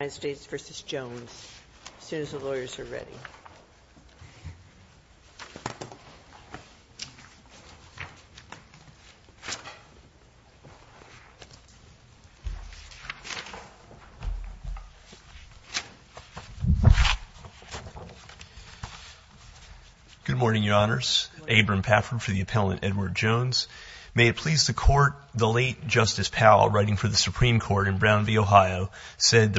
May it please the Court, the late Justice Powell, writing for the Supreme Court in Brown that the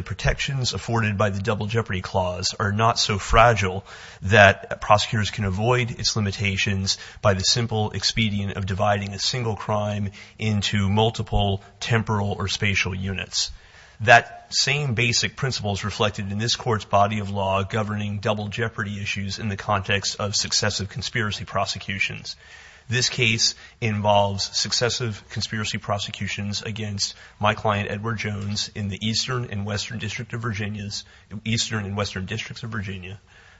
protections afforded by the Double Jeopardy Clause are not so fragile that prosecutors can avoid its limitations by the simple expedient of dividing a single crime into multiple temporal or spatial units. That same basic principles reflected in this Court's body of law governing double jeopardy issues in the context of successive conspiracy prosecutions. This case involves successive conspiracy prosecutions against my client Edward Jones in the Eastern and Western Districts of Virginia.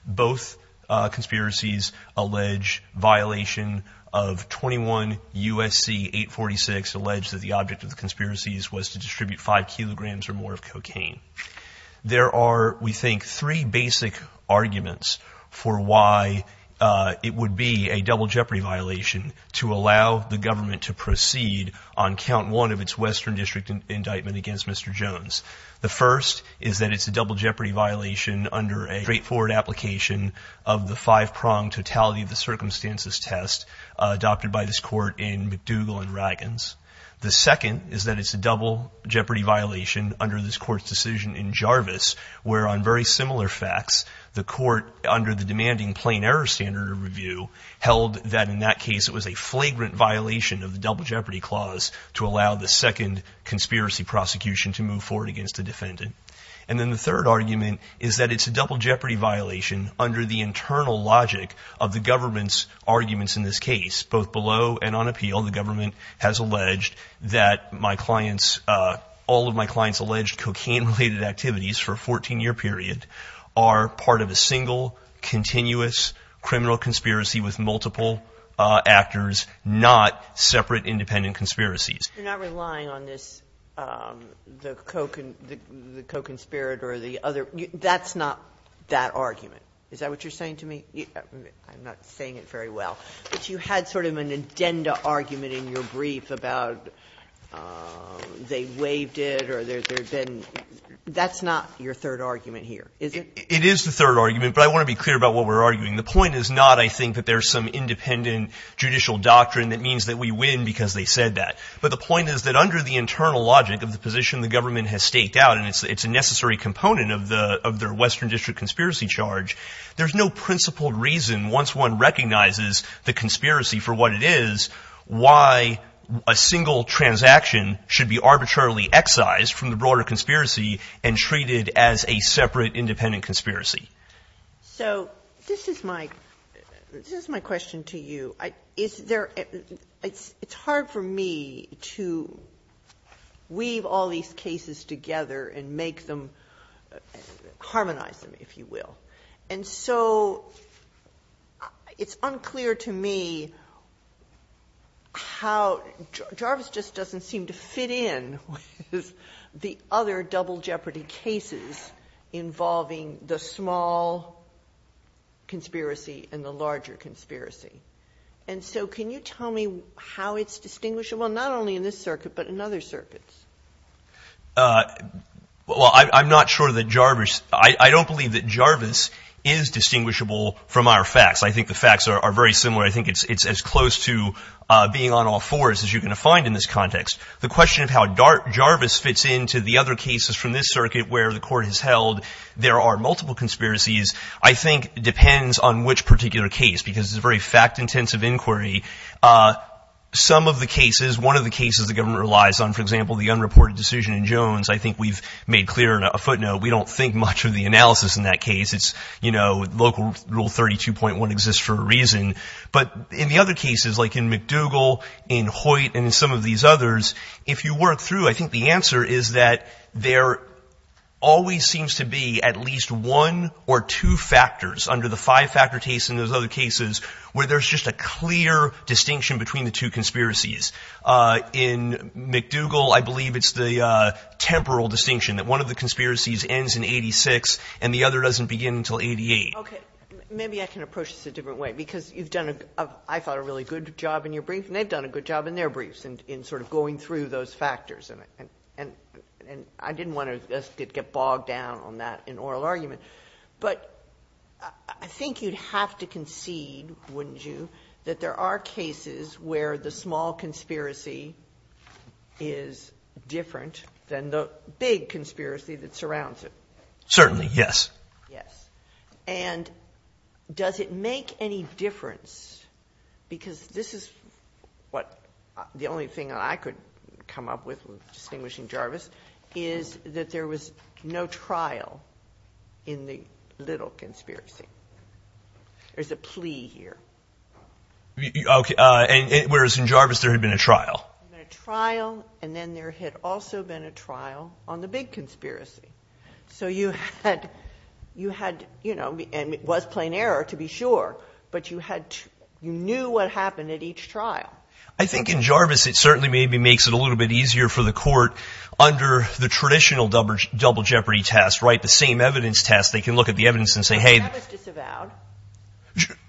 Both conspiracies allege violation of 21 U.S.C. 846, alleged that the object of the conspiracies was to distribute five kilograms or more of cocaine. There are, we think, three basic arguments for why it would be a double jeopardy violation to allow the government to proceed on count one of its Western District indictment against Mr. Jones. The first is that it's a double jeopardy violation under a straightforward application of the five-pronged totality of the circumstances test adopted by this Court in McDougall and Raggins. The second is that it's a double jeopardy violation under this Court's decision in Jarvis, where on very similar facts, the Court, under the demanding plain error standard review, held that in that case it was a flagrant violation of the Double Jeopardy Clause to allow the second conspiracy prosecution to move forward against the defendant. And then the third argument is that it's a double jeopardy violation under the internal logic of the government's arguments in this case. Both below and on appeal, the government has alleged that my client's, all of my client's alleged cocaine-related activities for a 14-year period are part of a single, continuous criminal conspiracy with multiple actors, not separate independent conspiracies. Sotomayor, you're not relying on this, the co-conspirator or the other. That's not that argument. Is that what you're saying to me? I'm not saying it very well. But you had sort of an addenda argument in your brief about they waived it or there have been — that's not your third argument here, is it? It is the third argument, but I want to be clear about what we're arguing. The point is not, I think, that there's some independent judicial doctrine that means that we win because they said that. But the point is that under the internal logic of the position the government has staked out, and it's a necessary component of their Western District conspiracy charge, there's no principled reason, once one recognizes the conspiracy for what it is, why a single transaction should be arbitrarily excised from the broader conspiracy and treated as a separate independent conspiracy. So this is my — this is my question to you. Is there — it's hard for me to weave all these cases together and make them — harmonize them, if you will. And so it's unclear to me how — Jarvis just doesn't seem to fit in with the other double jeopardy cases involving the small conspiracy and the larger conspiracy. And so can you tell me how it's distinguishable, not only in this circuit, but in other circuits? Well, I'm not sure that Jarvis — I don't believe that Jarvis is distinguishable from our facts. I think the facts are very similar. I think it's as close to being on all fours as you can find in this context. The question of how Jarvis fits into the other cases from this circuit where the court has held there are multiple conspiracies, I think depends on which particular case, because it's a very fact-intensive inquiry. Some of the cases — one of the cases the government relies on, for example, the unreported decision in Jones, I think we've made clear on a footnote, we don't think much of the analysis in that case. It's, you know, local rule 32.1 exists for a reason. But in the other cases, like in McDougall, in Hoyt, and in some of these others, if you work through, I think the answer is that there always seems to be at least one or two factors under the five-factor case in those other cases where there's just a clear distinction between the two conspiracies. In McDougall, I believe it's the temporal distinction, that one of the conspiracies ends in 86 and the other doesn't begin until 88. Okay. Maybe I can approach this a different way, because you've done, I thought, a really good job in your brief, and they've done a good job in their briefs in sort of going through those factors. And I didn't want to get bogged down on that in oral argument. But I think you'd have to concede, wouldn't you, that there are cases where the small conspiracy is different than the big conspiracy that surrounds it. Certainly. Yes. Yes. And does it make any difference? Because this is what the only thing I could come up with distinguishing Jarvis is that there was no trial in the little conspiracy. There's a plea here. Okay. Whereas in Jarvis there had been a trial. There had been a trial, and then there had also been a trial on the big conspiracy. So you had, you know, and it was plain error to be sure, but you knew what happened at each trial. I think in Jarvis it certainly maybe makes it a little bit easier for the court under the traditional double jeopardy test, right, the same evidence test. They can look at the evidence and say, hey. But Jarvis disavowed.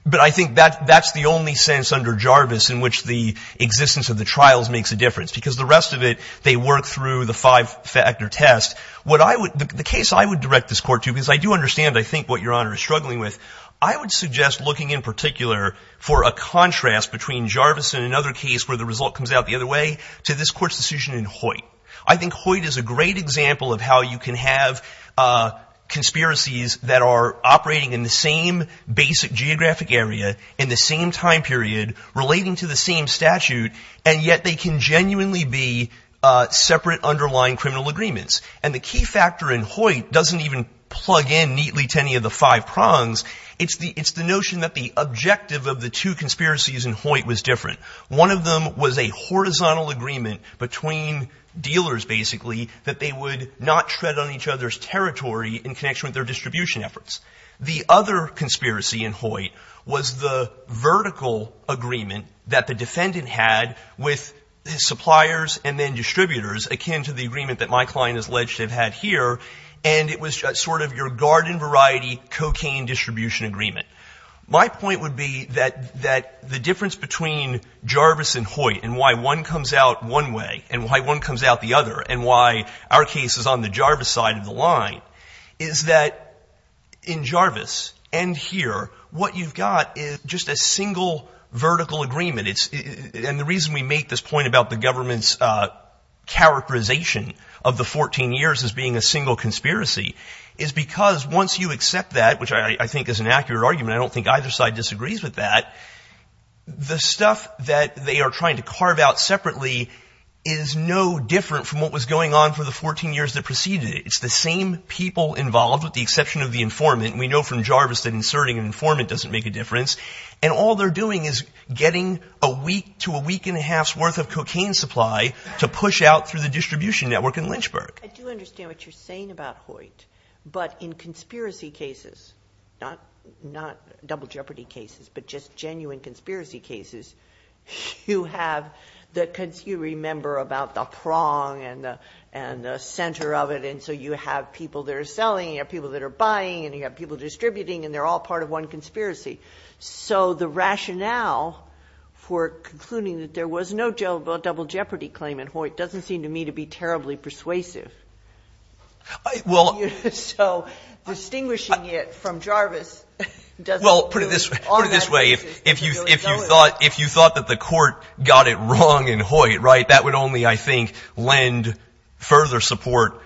But I think that's the only sense under Jarvis in which the existence of the trials makes a difference. Because the rest of it, they work through the five-factor test. The case I would direct this court to, because I do understand, I think, what Your Honor is struggling with, I would suggest looking in particular for a contrast between Jarvis and another case where the result comes out the other way to this court's decision in Hoyt. I think Hoyt is a great example of how you can have conspiracies that are operating in the same basic geographic area in the same time period relating to the same statute, and yet they can genuinely be separate underlying criminal agreements. And the key factor in Hoyt doesn't even plug in neatly to any of the five prongs. It's the notion that the objective of the two conspiracies in Hoyt was different. One of them was a horizontal agreement between dealers, basically, that they would not tread on each other's territory in connection with their distribution efforts. The other conspiracy in Hoyt was the vertical agreement that the defendant had with his suppliers and then distributors, akin to the agreement that my client has alleged to have had here, and it was sort of your garden variety cocaine distribution agreement. My point would be that the difference between Jarvis and Hoyt and why one comes out one way and why one comes out the other and why our case is on the Jarvis side of the world, in Jarvis and here, what you've got is just a single vertical agreement. And the reason we make this point about the government's characterization of the 14 years as being a single conspiracy is because once you accept that, which I think is an accurate argument, I don't think either side disagrees with that, the stuff that they are trying to carve out separately is no different from what was going on for the 14 years that preceded it. It's the same people involved with the exception of the informant. We know from Jarvis that inserting an informant doesn't make a difference. And all they're doing is getting a week to a week and a half's worth of cocaine supply to push out through the distribution network in Lynchburg. I do understand what you're saying about Hoyt. But in conspiracy cases, not double jeopardy cases, but just genuine conspiracy cases, you have the you remember about the prong and the center of it. And so you have people that are selling, you have people that are buying, and you have people distributing, and they're all part of one conspiracy. So the rationale for concluding that there was no double jeopardy claim in Hoyt doesn't seem to me to be terribly persuasive. So distinguishing it from Jarvis doesn't prove on that basis to be really If you thought that the court got it wrong in Hoyt, right, that would only, I think, lend further support,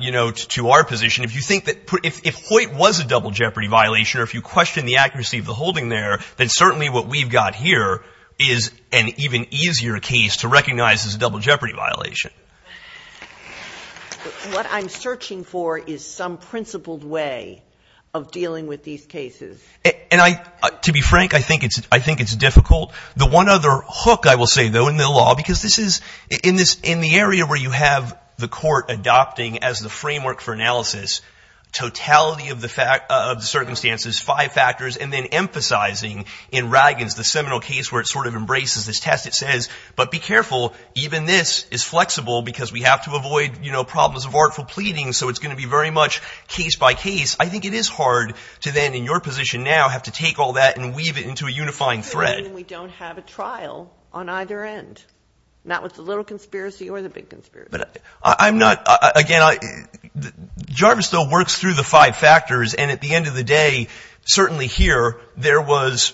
you know, to our position. If you think that if Hoyt was a double jeopardy violation or if you question the accuracy of the holding there, then certainly what we've got here is an even easier case to recognize as a double jeopardy violation. What I'm searching for is some principled way of dealing with these cases. And to be frank, I think it's difficult. The one other hook, I will say, though, in the law, because this is in the area where you have the court adopting as the framework for analysis, totality of the circumstances, five factors, and then emphasizing in Raggins, the seminal case where it sort of embraces this test. It says, but be careful, even this is flexible because we have to avoid, you know, problems of artful pleading, so it's going to be very much case by case. I think it is hard to then, in your position now, have to take all that and weave it into a unifying thread. We don't have a trial on either end, not with the little conspiracy or the big conspiracy. But I'm not, again, Jarvis, though, works through the five factors, and at the end of the day, certainly here, there was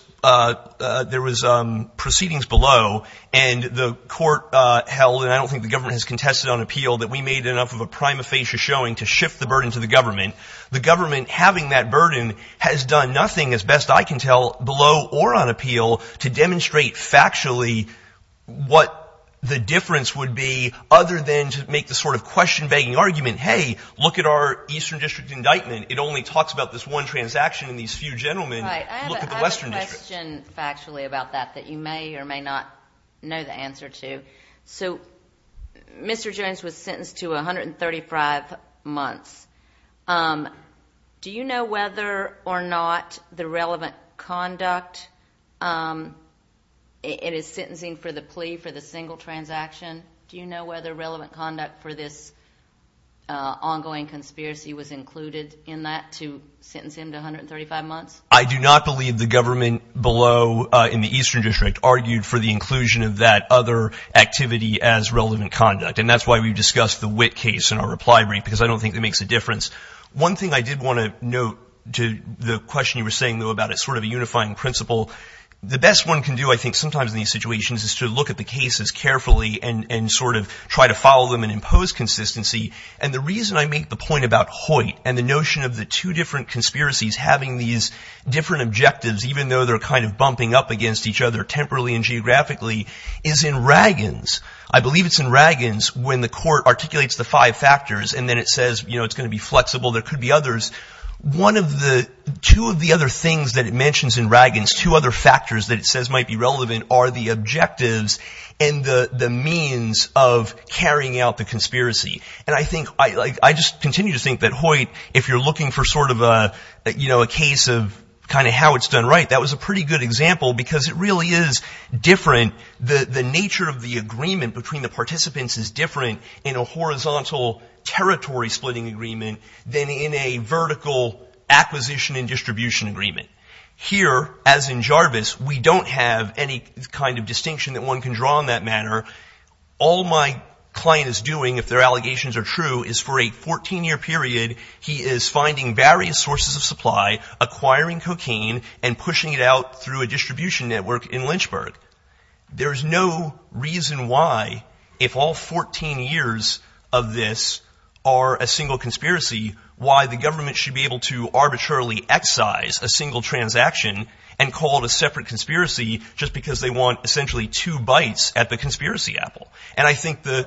proceedings below, and the court held, and I don't think the government has contested on appeal, that we made enough of a prima facie showing to shift the burden to the government. The government having that burden has done nothing, as best I can tell, below or on appeal to demonstrate factually what the difference would be, other than to make the sort of question-begging argument, hey, look at our Eastern District indictment. It only talks about this one transaction and these few gentlemen. Look at the Western District. Right. I have a question factually about that that you may or may not know the answer to. So Mr. Jones was sentenced to 135 months. Do you know whether or not the relevant conduct, it is sentencing for the plea for the single transaction, do you know whether relevant conduct for this ongoing conspiracy was included in that to sentence him to 135 months? I do not believe the government below in the Eastern District argued for the inclusion of that other activity as relevant conduct. And that's why we discussed the Witt case in our reply brief, because I don't think that makes a difference. One thing I did want to note to the question you were saying, though, about it's sort of a unifying principle. The best one can do, I think, sometimes in these situations is to look at the cases carefully and sort of try to follow them and impose consistency. And the reason I make the point about Hoyt and the notion of the two different conspiracies having these different objectives, even though they're kind of bumping up against each other temporally and geographically, is in Raggans. I believe it's in Raggans when the court articulates the five factors, and then it says, you know, it's going to be flexible, there could be others. One of the – two of the other things that it mentions in Raggans, two other factors that it says might be relevant, are the objectives and the means of carrying out the conspiracy. And I think – I just continue to think that Hoyt, if you're looking for sort of a, you know, a case of kind of how it's done right, that was a pretty good example because it really is different. The nature of the agreement between the participants is different in a horizontal territory splitting agreement than in a vertical acquisition and distribution agreement. Here, as in Jarvis, we don't have any kind of distinction that one can draw in that manner. All my client is doing, if their allegations are true, is for a 14-year period, he is finding various sources of supply, acquiring cocaine, and pushing it out through a distribution network in Lynchburg. There's no reason why, if all 14 years of this are a single conspiracy, why the government should be able to arbitrarily excise a single transaction and call it a separate conspiracy just because they want essentially two bites at the conspiracy apple. And I think the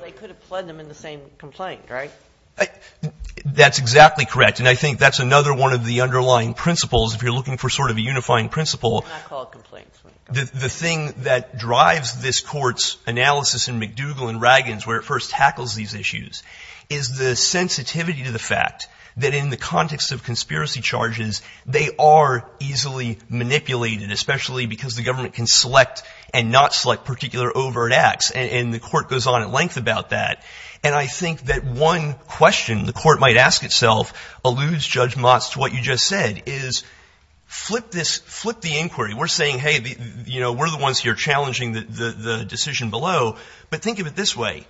– That's exactly correct. And I think that's another one of the underlying principles, if you're looking for sort of a unifying principle. It's not called complaints. The thing that drives this Court's analysis in McDougall and Raggins, where it first tackles these issues, is the sensitivity to the fact that in the context of conspiracy charges, they are easily manipulated, especially because the government can select and not select particular overt acts. And the Court goes on at length about that. And I think that one question the Court might ask itself alludes, Judge Motz, to what you just said, is flip this – flip the inquiry. We're saying, hey, you know, we're the ones here challenging the decision below. But think of it this way.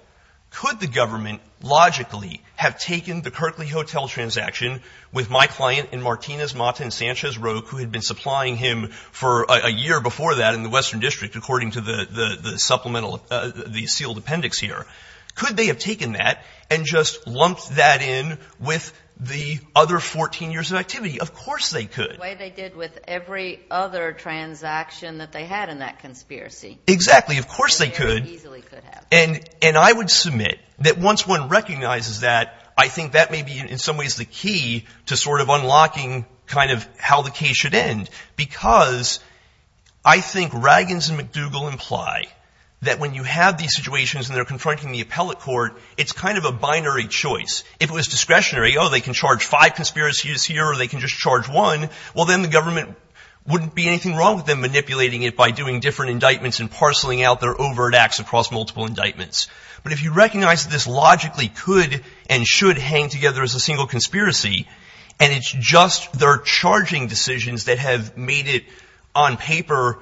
Could the government logically have taken the Kerkley Hotel transaction with my client and Martinez Mata and Sanchez Roque, who had been supplying him for a year before that in the Western District, according to the supplemental – the sealed appendix here. Could they have taken that and just lumped that in with the other 14 years of activity? Of course they could. The way they did with every other transaction that they had in that conspiracy. Exactly. Of course they could. They very easily could have. And I would submit that once one recognizes that, I think that may be in some ways the key to sort of unlocking kind of how the case should end. Because I think Raggins and McDougall imply that when you have these situations and they're confronting the appellate court, it's kind of a binary choice. If it was discretionary, oh, they can charge five conspiracies here, or they can just charge one, well, then the government wouldn't be anything wrong with them manipulating it by doing different indictments and parceling out their overt acts across multiple indictments. But if you recognize that this logically could and should hang together as a single conspiracy, and it's just their charging decisions that have made it on paper,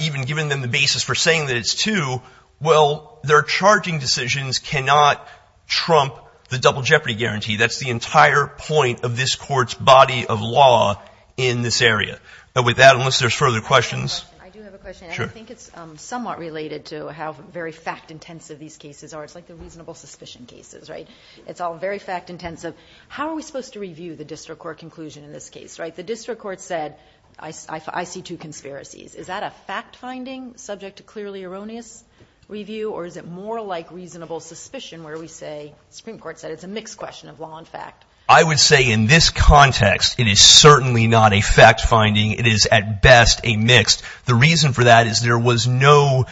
even giving them the basis for saying that it's two, well, their charging decisions cannot trump the double jeopardy guarantee. That's the entire point of this court's body of law in this area. But with that, unless there's further questions. I do have a question. I think it's somewhat related to how very fact-intensive these cases are. It's like the reasonable suspicion cases, right? It's all very fact-intensive. How are we supposed to review the district court conclusion in this case, right? The district court said, I see two conspiracies. Is that a fact-finding subject to clearly erroneous review, or is it more like reasonable suspicion where we say, the Supreme Court said it's a mixed question of law and fact? I would say in this context, it is certainly not a fact-finding. It is at best a mixed. The reason for that is there was no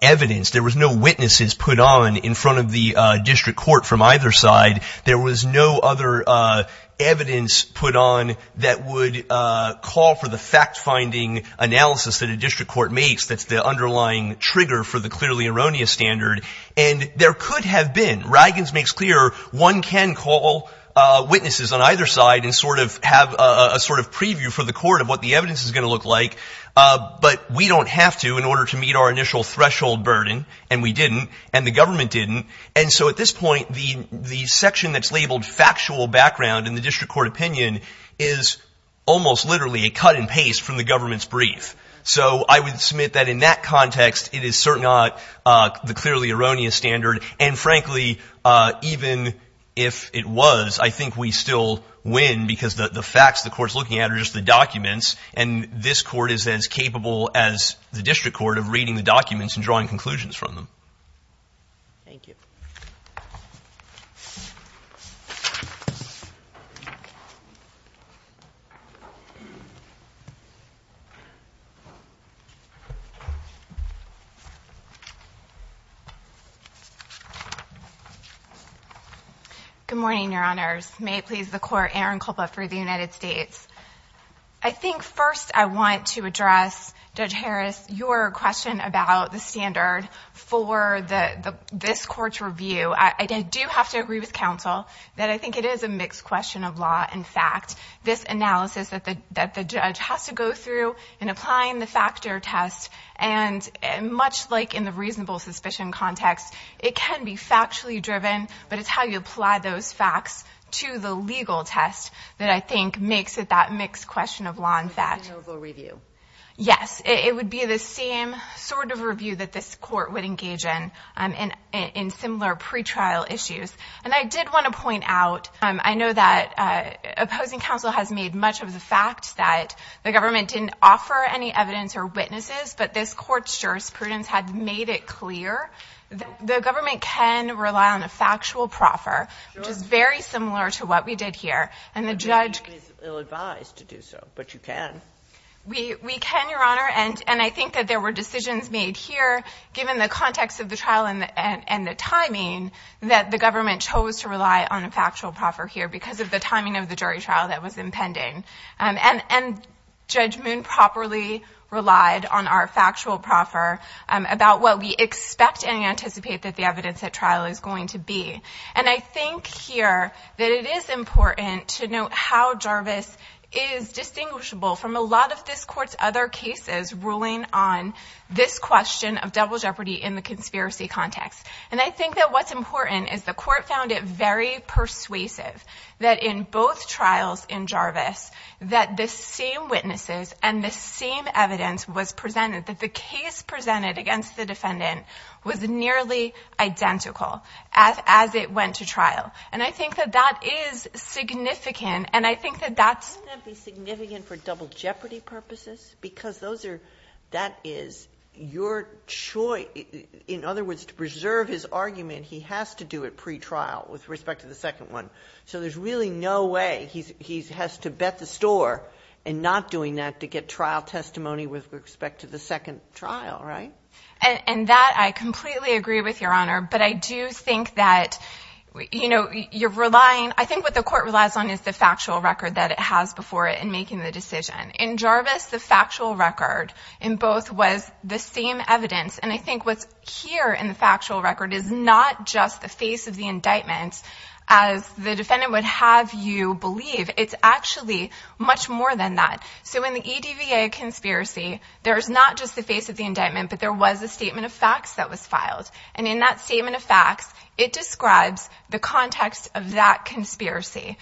evidence, there was no witnesses put on in front of the district court from either side. There was no other evidence put on that would call for the fact-finding analysis that a district court makes that's the underlying trigger for the clearly erroneous standard. And there could have been. Riggins makes clear one can call witnesses on either side and sort of have a sort of preview for the court of what the evidence is going to look like. But we don't have to in order to meet our initial threshold burden. And we didn't. And the government didn't. And so at this point, the section that's labeled factual background in the district court opinion is almost literally a cut and paste from the government's brief. So I would submit that in that context, it is certainly not the clearly erroneous standard. And frankly, even if it was, I think we still win because the facts the court's looking at are just the documents. And this court is as capable as the district court of reading the documents and drawing conclusions from them. Thank you. Good morning, Your Honors. May it please the Court, Erin Culpa for the United States. I think first I want to address, Judge Harris, your question about the standard for this court's review. I do have to agree with counsel that I think it is a mixed question of law and fact. This analysis that the judge has to go through in applying the factor test, and much like in the reasonable suspicion context, it can be factually driven, but it's how you apply those facts to the legal test that I think makes it that mixed question of law and fact. Reasonable review. Yes, it would be the same sort of review that this court would engage in in similar pretrial issues. And I did want to point out, I know that opposing counsel has made much of the fact that the government didn't offer any evidence or witnesses, but this court's jurisprudence had made it clear that the government can rely on a factual proffer, which is very similar to what we did here. And the judge is advised to do so, but you can. We can, Your Honor. And I think that there were decisions made here, given the context of the trial and the timing, that the government chose to rely on a factual proffer here because of the timing of the jury trial that was impending. And Judge Moon properly relied on our factual proffer about what we expect and anticipate that the evidence at trial is going to be. And I think here that it is important to note how Jarvis is distinguishable from a lot of this court's other cases ruling on this question of double jeopardy in the conspiracy context. And I think that what's important is the court found it very persuasive that in both trials in Jarvis that the same witnesses and the same evidence was presented, that the case presented against the defendant was nearly identical as it went to trial. And I think that that is significant. And I think that that's. Wouldn't that be significant for double jeopardy purposes? Because that is your choice. In other words, to preserve his argument, he has to do it pretrial with respect to the second one. So there's really no way he has to bet the store in not doing that to get trial testimony with respect to the second trial, right? And that I completely agree with your honor. But I do think that, you know, you're relying. I think what the court relies on is the factual record that it has before it and making the decision in Jarvis. The factual record in both was the same evidence. And I think what's here in the factual record is not just the face of the indictments as the defendant would have you believe. It's actually much more than that. So in the DVA conspiracy, there is not just the face of the indictment, but there was a statement of facts that was filed. And in that statement of facts, it describes the context of that conspiracy.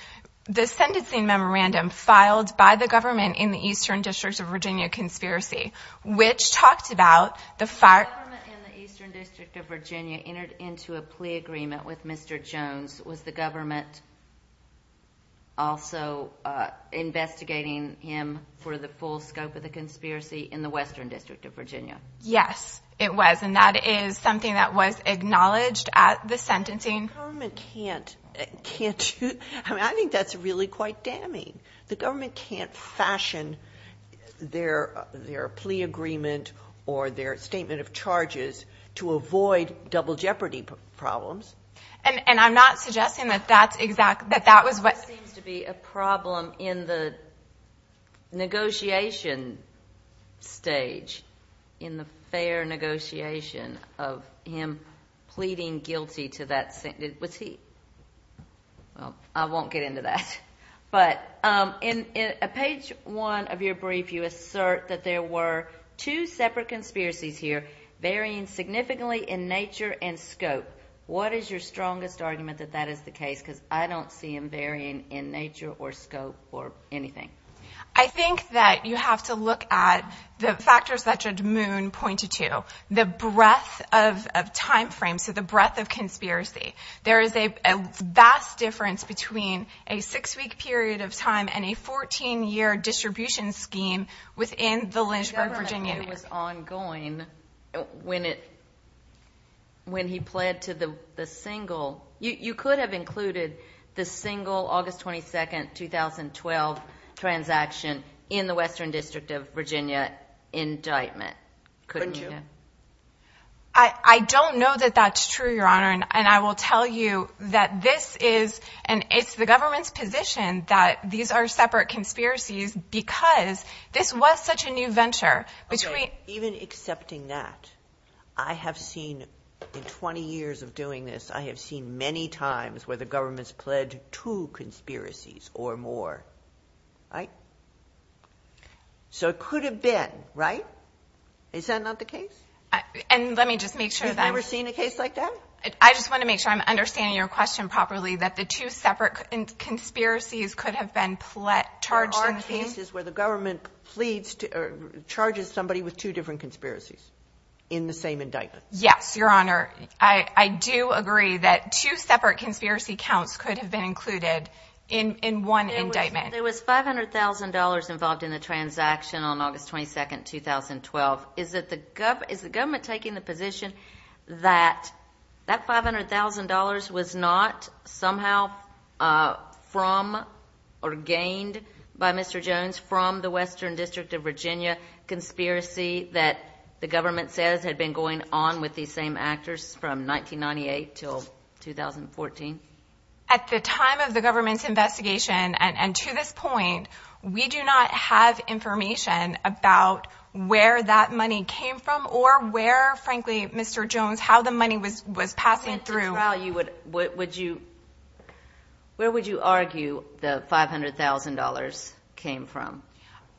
The sentencing memorandum filed by the government in the eastern district of Virginia conspiracy, which talked about the fire. The eastern district of Virginia entered into a plea agreement with Mr. Jones. Was the government also investigating him for the full scope of the conspiracy in the western district of Virginia? Yes, it was. And that is something that was acknowledged at the sentencing. The government can't. I mean, I think that's really quite damning. The government can't fashion their plea agreement or their statement of charges to avoid double jeopardy problems. And I'm not suggesting that that was what. That seems to be a problem in the negotiation stage, in the fair negotiation of him pleading guilty to that. Was he? Well, I won't get into that. But in page one of your brief, you assert that there were two separate conspiracies here varying significantly in nature and scope. What is your strongest argument that that is the case? Because I don't see them varying in nature or scope or anything. I think that you have to look at the factors that Judd Moon pointed to, the breadth of timeframes, so the breadth of conspiracy. There is a vast difference between a six-week period of time and a 14-year distribution scheme within the Lynchburg, Virginia. The government was ongoing when he pled to the single. You could have included the single August 22nd, 2012 transaction in the Western District of Virginia indictment. Couldn't you? I don't know that that's true, Your Honor. And I will tell you that this is, and it's the government's position that these are separate conspiracies because this was such a new venture. Even accepting that, I have seen in 20 years of doing this, I have seen many times where the government's pled to conspiracies or more. Right? So it could have been, right? Is that not the case? And let me just make sure that I'm. You've never seen a case like that? I just want to make sure I'm understanding your question properly, that the two separate conspiracies could have been pled, charged. There are cases where the government pleads, charges somebody with two different conspiracies in the same indictment. Yes, Your Honor. I do agree that two separate conspiracy counts could have been included in one indictment. There was $500,000 involved in the transaction on August 22nd, 2012. Is the government taking the position that that $500,000 was not somehow from or gained by Mr. Jones from the Western District of Virginia conspiracy that the government says had been going on with these same actors from 1998 until 2014? At the time of the government's investigation and to this point, we do not have information about where that money came from or where, frankly, Mr. Jones, how the money was passing through. In trial, where would you argue the $500,000 came from?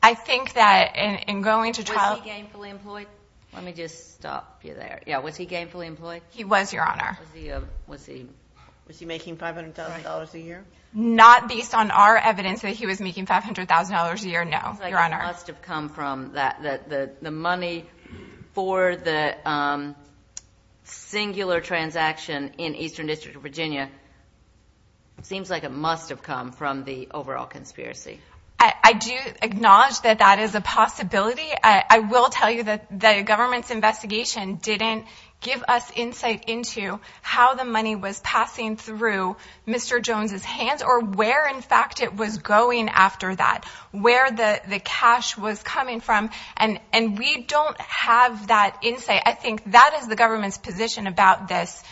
I think that in going to trial... Was he gainfully employed? Let me just stop you there. Yeah, was he gainfully employed? He was, Your Honor. Was he making $500,000 a year? Not based on our evidence that he was making $500,000 a year, no, Your Honor. It seems like it must have come from the money for the singular transaction in Eastern District of Virginia. It seems like it must have come from the overall conspiracy. I do acknowledge that that is a possibility. I will tell you that the government's investigation didn't give us insight into how the money was passing through Mr. Jones' hands or where, in fact, it was going after that, where the cash was coming from, and we don't have that insight. I think that is the government's position about this,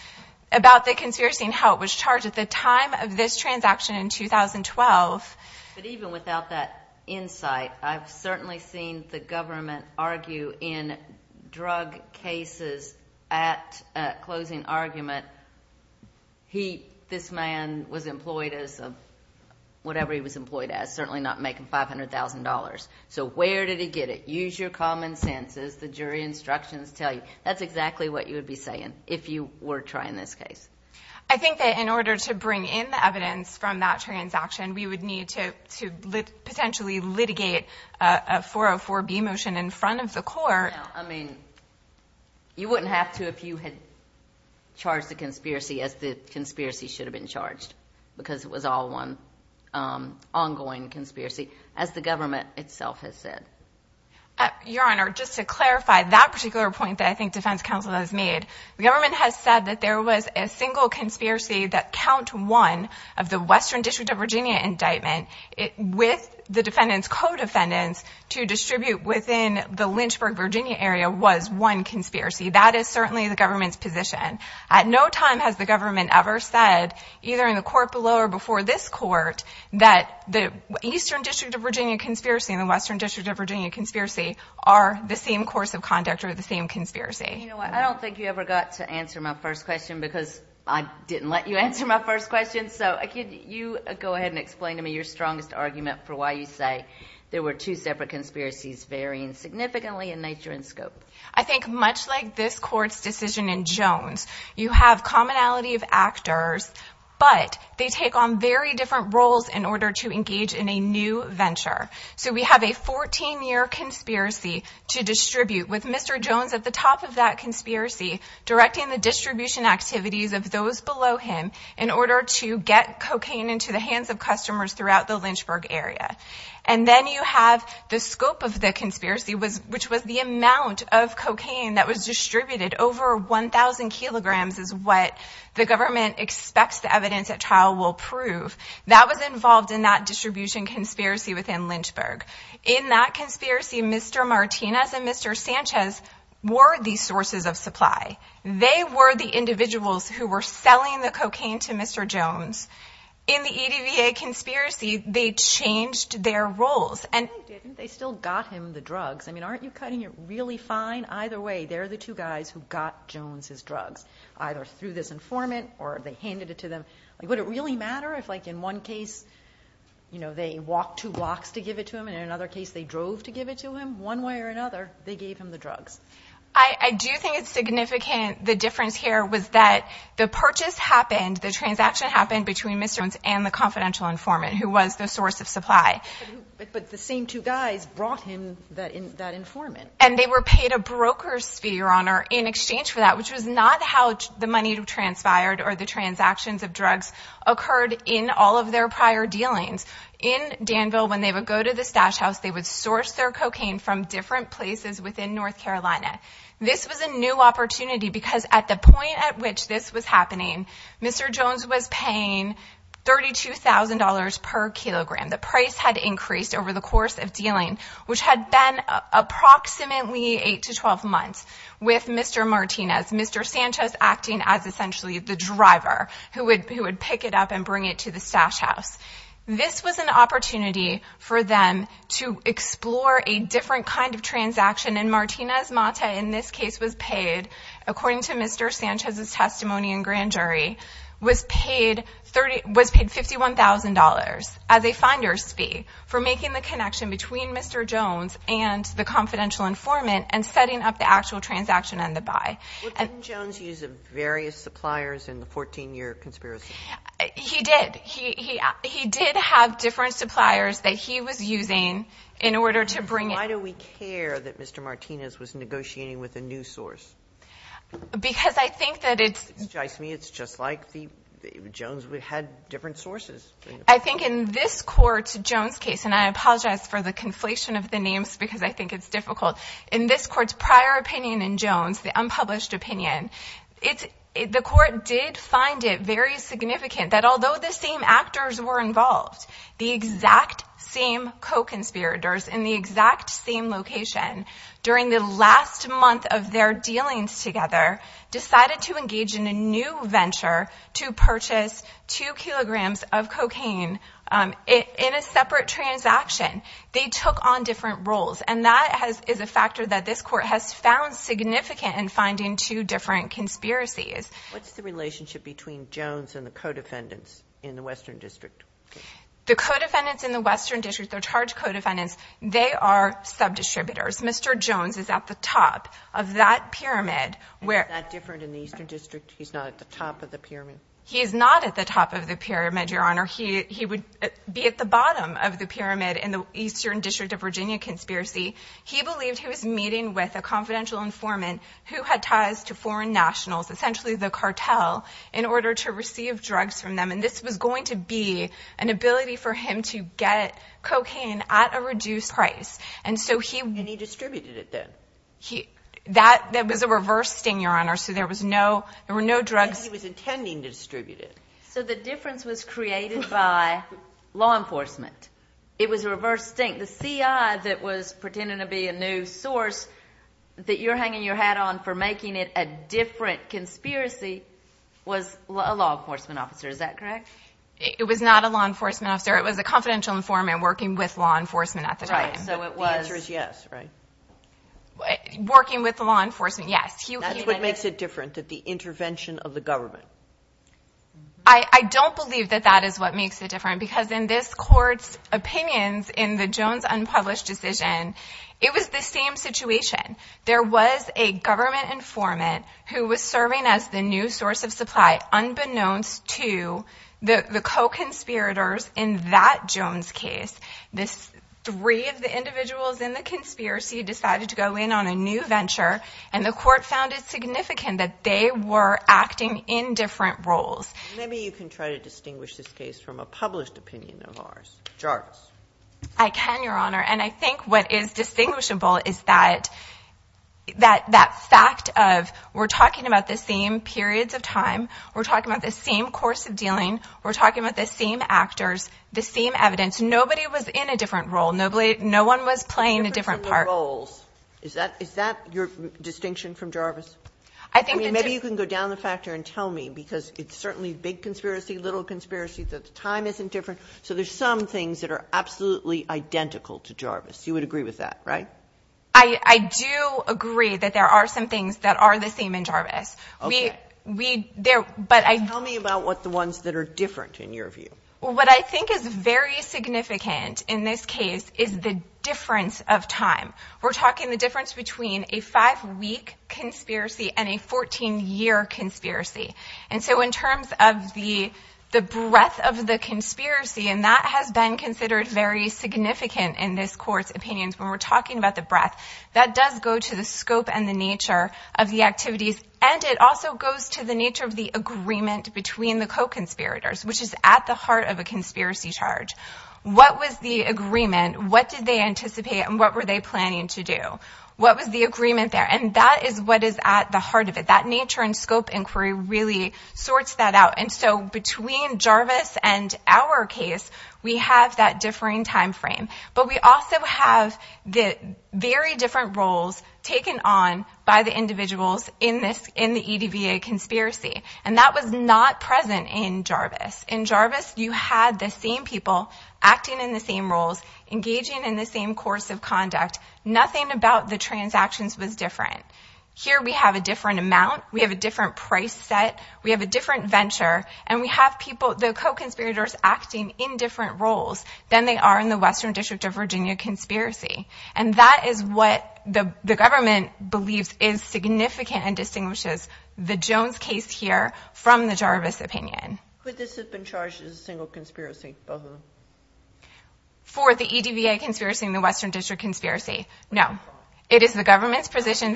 about the conspiracy and how it was charged at the time of this transaction in 2012. But even without that insight, I've certainly seen the government argue in drug cases at closing argument, this man was employed as whatever he was employed as, certainly not making $500,000. So where did he get it? Use your common sense as the jury instructions tell you. That's exactly what you would be saying if you were trying this case. I think that in order to bring in the evidence from that transaction, we would need to potentially litigate a 404B motion in front of the court. I mean, you wouldn't have to if you had charged the conspiracy as the conspiracy should have been charged because it was all one ongoing conspiracy, as the government itself has said. Your Honor, just to clarify that particular point that I think defense counsel has made, the government has said that there was a single conspiracy that count one of the Western District of Virginia indictment with the defendant's co-defendants to distribute within the Lynchburg, Virginia area was one conspiracy. That is certainly the government's position. At no time has the government ever said, either in the court below or before this court, that the Eastern District of Virginia conspiracy and the Western District of Virginia conspiracy are the same course of conduct or the same conspiracy. You know what? I don't think you ever got to answer my first question because I didn't let you answer my first question. So could you go ahead and explain to me your strongest argument for why you say there were two separate conspiracies varying significantly in nature and scope? I think much like this court's decision in Jones, you have commonality of actors, but they take on very different roles in order to engage in a new venture. So we have a 14-year conspiracy to distribute with Mr. Jones at the top of that conspiracy, directing the distribution activities of those below him in order to get cocaine into the hands of customers throughout the Lynchburg area. And then you have the scope of the conspiracy, which was the amount of cocaine that was distributed. Over 1,000 kilograms is what the government expects the evidence at trial will prove. That was involved in that distribution conspiracy within Lynchburg. In that conspiracy, Mr. Martinez and Mr. Sanchez were the sources of supply. They were the individuals who were selling the cocaine to Mr. Jones. In the EDVA conspiracy, they changed their roles. I think they still got him the drugs. I mean, aren't you cutting it really fine? Either way, they're the two guys who got Jones his drugs, either through this informant or they handed it to them. Would it really matter if, like, in one case, you know, they walked two blocks to give it to him and in another case they drove to give it to him? One way or another, they gave him the drugs. I do think it's significant, the difference here was that the purchase happened, the transaction happened between Mr. Jones and the confidential informant who was the source of supply. But the same two guys brought him that informant. And they were paid a broker's fee, Your Honor, in exchange for that, which was not how the money transpired or the transactions of drugs occurred in all of their prior dealings. In Danville, when they would go to the stash house, they would source their cocaine from different places within North Carolina. This was a new opportunity because at the point at which this was happening, Mr. Jones was paying $32,000 per kilogram. The price had increased over the course of dealing, which had been approximately 8 to 12 months with Mr. Martinez, Mr. Sanchez acting as essentially the driver who would pick it up and bring it to the stash house. This was an opportunity for them to explore a different kind of transaction. And Martinez-Mata, in this case, was paid, according to Mr. Sanchez's testimony and grand jury, was paid $51,000 as a funder's fee for making the connection between Mr. Jones and the confidential informant and setting up the actual transaction and the buy. Well, didn't Jones use various suppliers in the 14-year conspiracy? He did. He did have different suppliers that he was using in order to bring it. Why do we care that Mr. Martinez was negotiating with a new source? Because I think that it's – To me, it's just like Jones had different sources. I think in this court's Jones case, and I apologize for the conflation of the names because I think it's difficult. In this court's prior opinion in Jones, the unpublished opinion, the court did find it very significant that although the same actors were involved, the exact same co-conspirators in the exact same location during the last month of their dealings together decided to engage in a new venture to purchase 2 kilograms of cocaine in a separate transaction. They took on different roles, and that is a factor that this court has found significant in finding two different conspiracies. What's the relationship between Jones and the co-defendants in the Western District? The co-defendants in the Western District, they're charged co-defendants. They are sub-distributors. Mr. Jones is at the top of that pyramid. He's not that different in the Eastern District. He's not at the top of the pyramid. He's not at the top of the pyramid, Your Honor. He would be at the bottom of the pyramid in the Eastern District of Virginia conspiracy. He believed he was meeting with a confidential informant who had ties to foreign nationals, essentially the cartel, in order to receive drugs from them, and this was going to be an ability for him to get cocaine at a reduced price. And he distributed it then. That was a reverse sting, Your Honor, so there were no drugs. He was intending to distribute it. So the difference was created by law enforcement. It was a reverse sting. The CI that was pretending to be a new source that you're hanging your hat on for making it a different conspiracy was a law enforcement officer. Is that correct? It was not a law enforcement officer. It was a confidential informant working with law enforcement at the time. Right, so the answer is yes, right? Working with law enforcement, yes. That's what makes it different, the intervention of the government. I don't believe that that is what makes it different because in this Court's opinions in the Jones unpublished decision, it was the same situation. There was a government informant who was serving as the new source of supply but unbeknownst to the co-conspirators in that Jones case, three of the individuals in the conspiracy decided to go in on a new venture and the Court found it significant that they were acting in different roles. Maybe you can try to distinguish this case from a published opinion of ours. Jarts. I can, Your Honor, and I think what is distinguishable is that fact of we're talking about the same periods of time, we're talking about the same course of dealing, we're talking about the same actors, the same evidence. Nobody was in a different role. No one was playing a different part. Different roles. Is that your distinction from Jarvis? Maybe you can go down the factor and tell me because it's certainly big conspiracy, little conspiracy. The time isn't different. So there's some things that are absolutely identical to Jarvis. You would agree with that, right? I do agree that there are some things that are the same in Jarvis. Tell me about what the ones that are different in your view. What I think is very significant in this case is the difference of time. We're talking the difference between a five-week conspiracy and a 14-year conspiracy. And so in terms of the breadth of the conspiracy, and that has been considered very significant in this Court's opinions when we're talking about the breadth, that does go to the scope and the nature of the activities. And it also goes to the nature of the agreement between the co-conspirators, which is at the heart of a conspiracy charge. What was the agreement? What did they anticipate and what were they planning to do? What was the agreement there? And that is what is at the heart of it. That nature and scope inquiry really sorts that out. And so between Jarvis and our case, we have that differing time frame. But we also have the very different roles taken on by the individuals in the EDVA conspiracy. And that was not present in Jarvis. In Jarvis, you had the same people acting in the same roles, engaging in the same course of conduct. Nothing about the transactions was different. Here we have a different amount. We have a different price set. We have a different venture. And we have people, the co-conspirators acting in different roles than they are in the Western District of Virginia conspiracy. And that is what the government believes is significant and distinguishes the Jones case here from the Jarvis opinion. Could this have been charged as a single conspiracy, both of them? For the EDVA conspiracy and the Western District conspiracy, no. It is the government's position.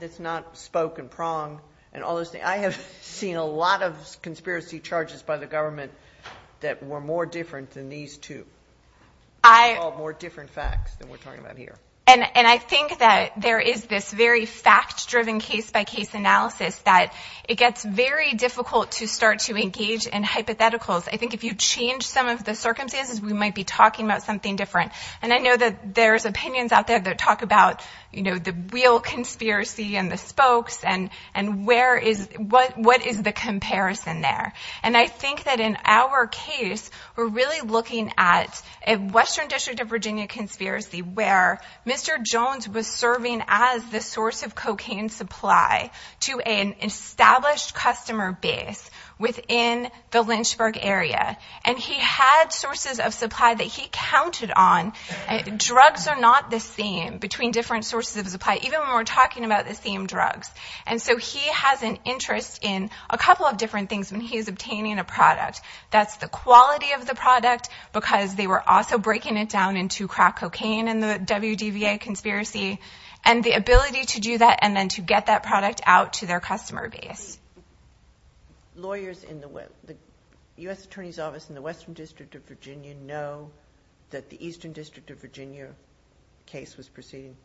That's not spoke and prong and all those things. I have seen a lot of conspiracy charges by the government that were more different than these two. More different facts than we're talking about here. And I think that there is this very fact-driven case-by-case analysis that it gets very difficult to start to engage in hypotheticals. I think if you change some of the circumstances, we might be talking about something different. And I know that there's opinions out there that talk about the real conspiracy and the spokes and what is the comparison there. And I think that in our case, we're really looking at a Western District of Virginia conspiracy where Mr. Jones was serving as the source of cocaine supply to an established customer base within the Lynchburg area. And he had sources of supply that he counted on. Drugs are not the same between different sources of supply, even when we're talking about the same drugs. And so he has an interest in a couple of different things when he's obtaining a product. That's the quality of the product because they were also breaking it down into crack cocaine in the WDVA conspiracy and the ability to do that and then to get that product out to their customer base. Lawyers in the U.S. Attorney's Office in the Western District of Virginia know that the Eastern District of Virginia case was proceeding?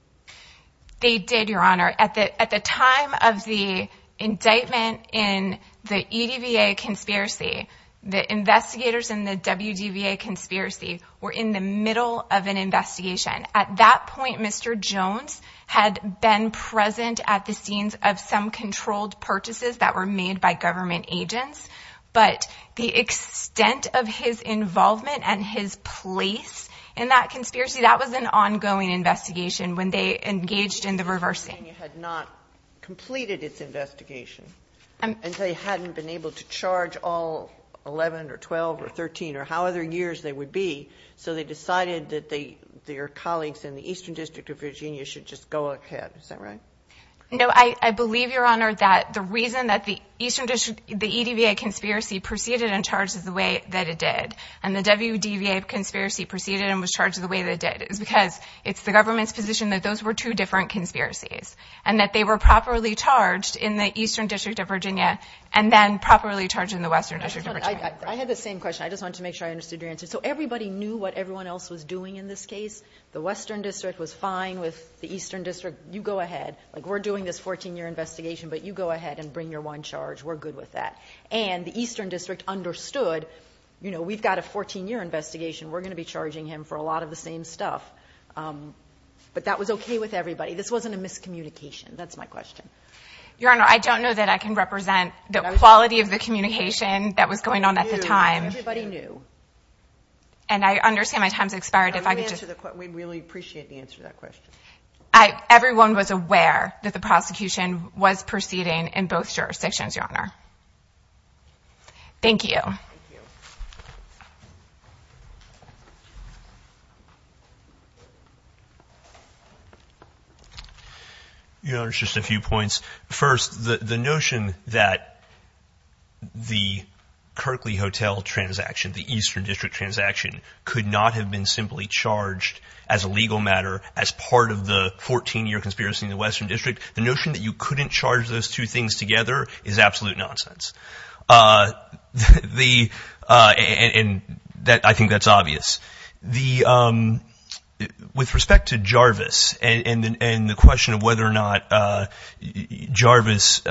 They did, Your Honor. At the time of the indictment in the EDVA conspiracy, the investigators in the WDVA conspiracy were in the middle of an investigation. At that point, Mr. Jones had been present at the scenes of some controlled purchases that were made by government agents. But the extent of his involvement and his place in that conspiracy, that was an ongoing investigation when they engaged in the reversing. Virginia had not completed its investigation. And they hadn't been able to charge all 11 or 12 or 13 or however many years they would be. So they decided that their colleagues in the Eastern District of Virginia should just go ahead. Is that right? I believe, Your Honor, that the reason that the EDVA conspiracy proceeded and charged the way that it did and the WDVA conspiracy proceeded and was charged the way that it did is because it's the government's position that those were two different conspiracies and that they were properly charged in the Eastern District of Virginia and then properly charged in the Western District of Virginia. I had the same question. I just wanted to make sure I understood your answer. So everybody knew what everyone else was doing in this case. The Western District was fine with the Eastern District. You go ahead. Like, we're doing this 14-year investigation, but you go ahead and bring your one charge. We're good with that. And the Eastern District understood, you know, we've got a 14-year investigation. We're going to be charging him for a lot of the same stuff. But that was okay with everybody. This wasn't a miscommunication. That's my question. Your Honor, I don't know that I can represent the quality of the communication that was going on at the time. Everybody knew. And I understand my time has expired. If I could just... We'd really appreciate the answer to that question. Everyone was aware that the prosecution was proceeding in both jurisdictions, Your Honor. Thank you. Thank you. Your Honor, just a few points. First, the notion that the Kerkley Hotel transaction, the Eastern District transaction, could not have been simply charged as a legal matter as part of the 14-year conspiracy in the Western District, the notion that you couldn't charge those two things together is absolute nonsense. And I think that's obvious. With respect to Jarvis and the question of whether or not Jarvis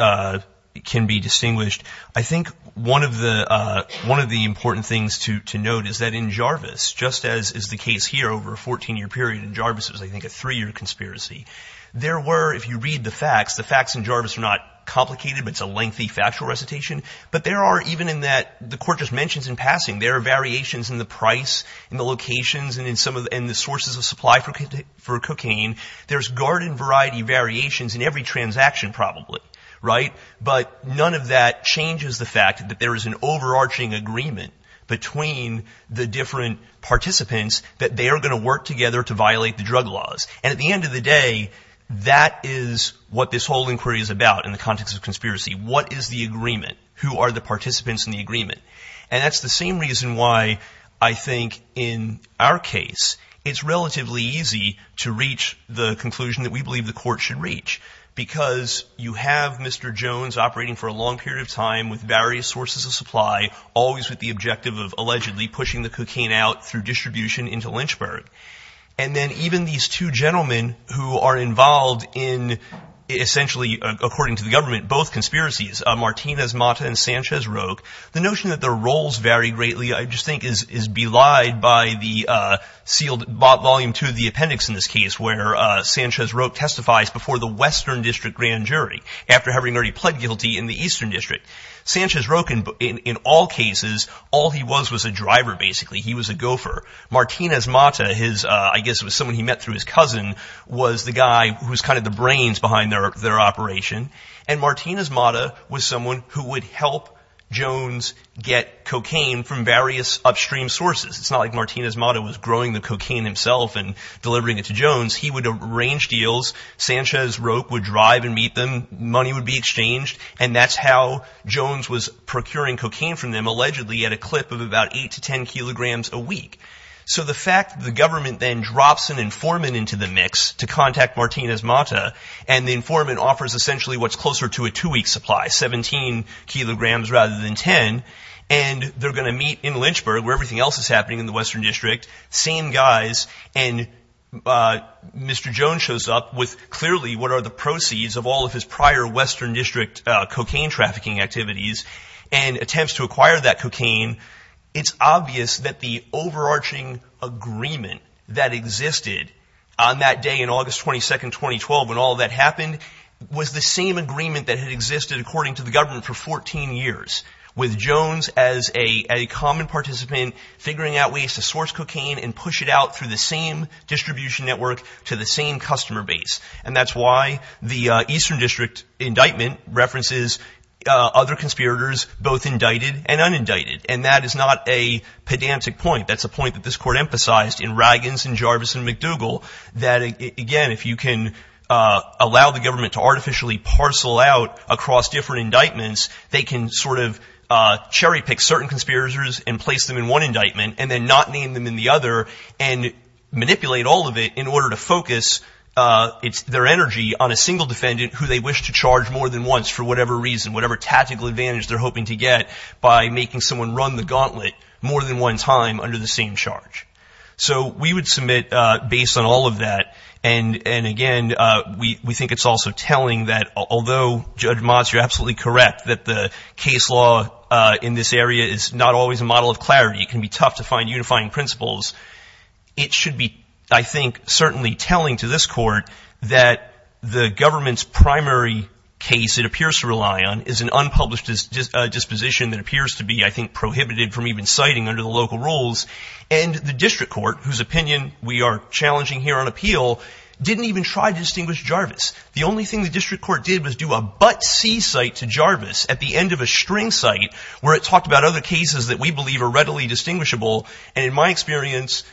can be distinguished, I think one of the important things to note is that in Jarvis, just as is the case here over a 14-year period in Jarvis, it was, I think, a three-year conspiracy. There were, if you read the facts, the facts in Jarvis are not complicated, but it's a lengthy factual recitation. But there are, even in that the Court just mentions in passing, there are variations in the price, in the locations, and in the sources of supply for cocaine. There's garden-variety variations in every transaction probably, right? But none of that changes the fact that there is an overarching agreement between the different participants that they are going to work together to violate the drug laws. And at the end of the day, that is what this whole inquiry is about in the context of conspiracy. What is the agreement? Who are the participants in the agreement? And that's the same reason why I think in our case, it's relatively easy to reach the conclusion that we believe the Court should reach, because you have Mr. Jones operating for a long period of time with various sources of supply, always with the objective of allegedly pushing the cocaine out through distribution into Lynchburg. And then even these two gentlemen who are involved in essentially, according to the government, both conspiracies, Martinez-Mata and Sanchez-Roque, the notion that their roles vary greatly, I just think, is belied by Volume 2 of the appendix in this case, where Sanchez-Roque testifies before the Western District Grand Jury, after having already pled guilty in the Eastern District. Sanchez-Roque, in all cases, all he was was a driver, basically. He was a gopher. Martinez-Mata, I guess it was someone he met through his cousin, was the guy who was kind of the brains behind their operation. And Martinez-Mata was someone who would help Jones get cocaine from various upstream sources. It's not like Martinez-Mata was growing the cocaine himself and delivering it to Jones. He would arrange deals. Sanchez-Roque would drive and meet them. Money would be exchanged. And that's how Jones was procuring cocaine from them, allegedly at a clip of about 8 to 10 kilograms a week. So the fact that the government then drops an informant into the mix to contact Martinez-Mata, and the informant offers essentially what's closer to a two-week supply, 17 kilograms rather than 10. And they're going to meet in Lynchburg, where everything else is happening in the Western District. Same guys. And Mr. Jones shows up with clearly what are the proceeds of all of his prior Western District cocaine trafficking activities and attempts to acquire that cocaine. It's obvious that the overarching agreement that existed on that day, on August 22, 2012, when all of that happened, was the same agreement that had existed according to the government for 14 years, with Jones as a common participant figuring out ways to source cocaine and push it out through the same distribution network to the same customer base. And that's why the Eastern District indictment references other conspirators, both indicted and unindicted. And that is not a pedantic point. That's a point that this court emphasized in Raggins and Jarvis and McDougall, that, again, if you can allow the government to artificially parcel out across different indictments, they can sort of cherry-pick certain conspirators and place them in one indictment and then not name them in the other and manipulate all of it in order to focus their energy on a single defendant who they wish to charge more than once for whatever reason, by making someone run the gauntlet more than one time under the same charge. So we would submit, based on all of that, and, again, we think it's also telling that although, Judge Motz, you're absolutely correct, that the case law in this area is not always a model of clarity. It can be tough to find unifying principles. It should be, I think, certainly telling to this court that the government's primary case it appears to rely on is an unpublished disposition that appears to be, I think, prohibited from even citing under the local rules. And the district court, whose opinion we are challenging here on appeal, didn't even try to distinguish Jarvis. The only thing the district court did was do a but-see site to Jarvis at the end of a string site where it talked about other cases that we believe are readily distinguishable. And in my experience,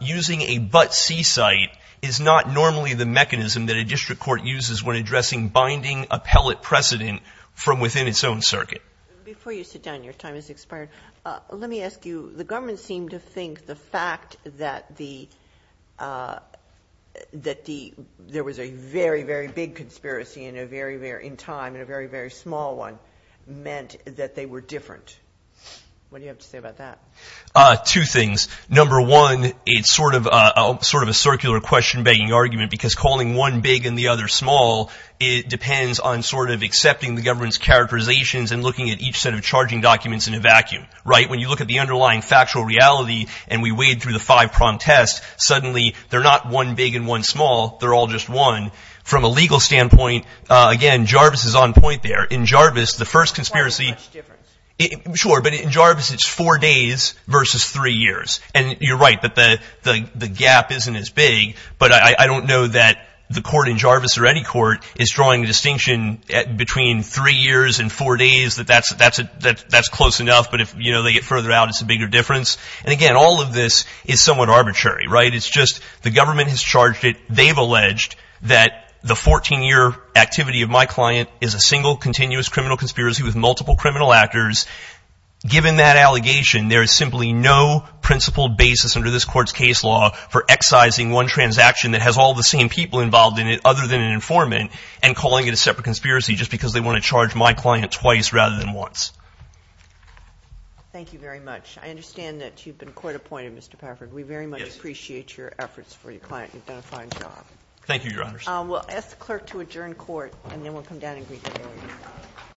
using a but-see site is not normally the mechanism that a district court uses when addressing binding appellate precedent from within its own circuit. Before you sit down, your time has expired. Let me ask you, the government seemed to think the fact that there was a very, very big conspiracy in time and a very, very small one meant that they were different. What do you have to say about that? Two things. Number one, it's sort of a circular question-begging argument because calling one big and the other small, it depends on sort of accepting the government's characterizations and looking at each set of charging documents in a vacuum, right? When you look at the underlying factual reality and we wade through the five-prong test, suddenly they're not one big and one small. They're all just one. From a legal standpoint, again, Jarvis is on point there. In Jarvis, the first conspiracy- And you're right that the gap isn't as big, but I don't know that the court in Jarvis or any court is drawing a distinction between three years and four days, that that's close enough, but if they get further out, it's a bigger difference. And again, all of this is somewhat arbitrary, right? It's just the government has charged it. They've alleged that the 14-year activity of my client is a single continuous criminal conspiracy with multiple criminal actors. Given that allegation, there is simply no principled basis under this court's case law for excising one transaction that has all the same people involved in it other than an informant and calling it a separate conspiracy just because they want to charge my client twice rather than once. Thank you very much. I understand that you've been court-appointed, Mr. Paffert. We very much appreciate your efforts for your client. You've done a fine job. Thank you, Your Honors. We'll ask the clerk to adjourn court, and then we'll come down and greet the jury.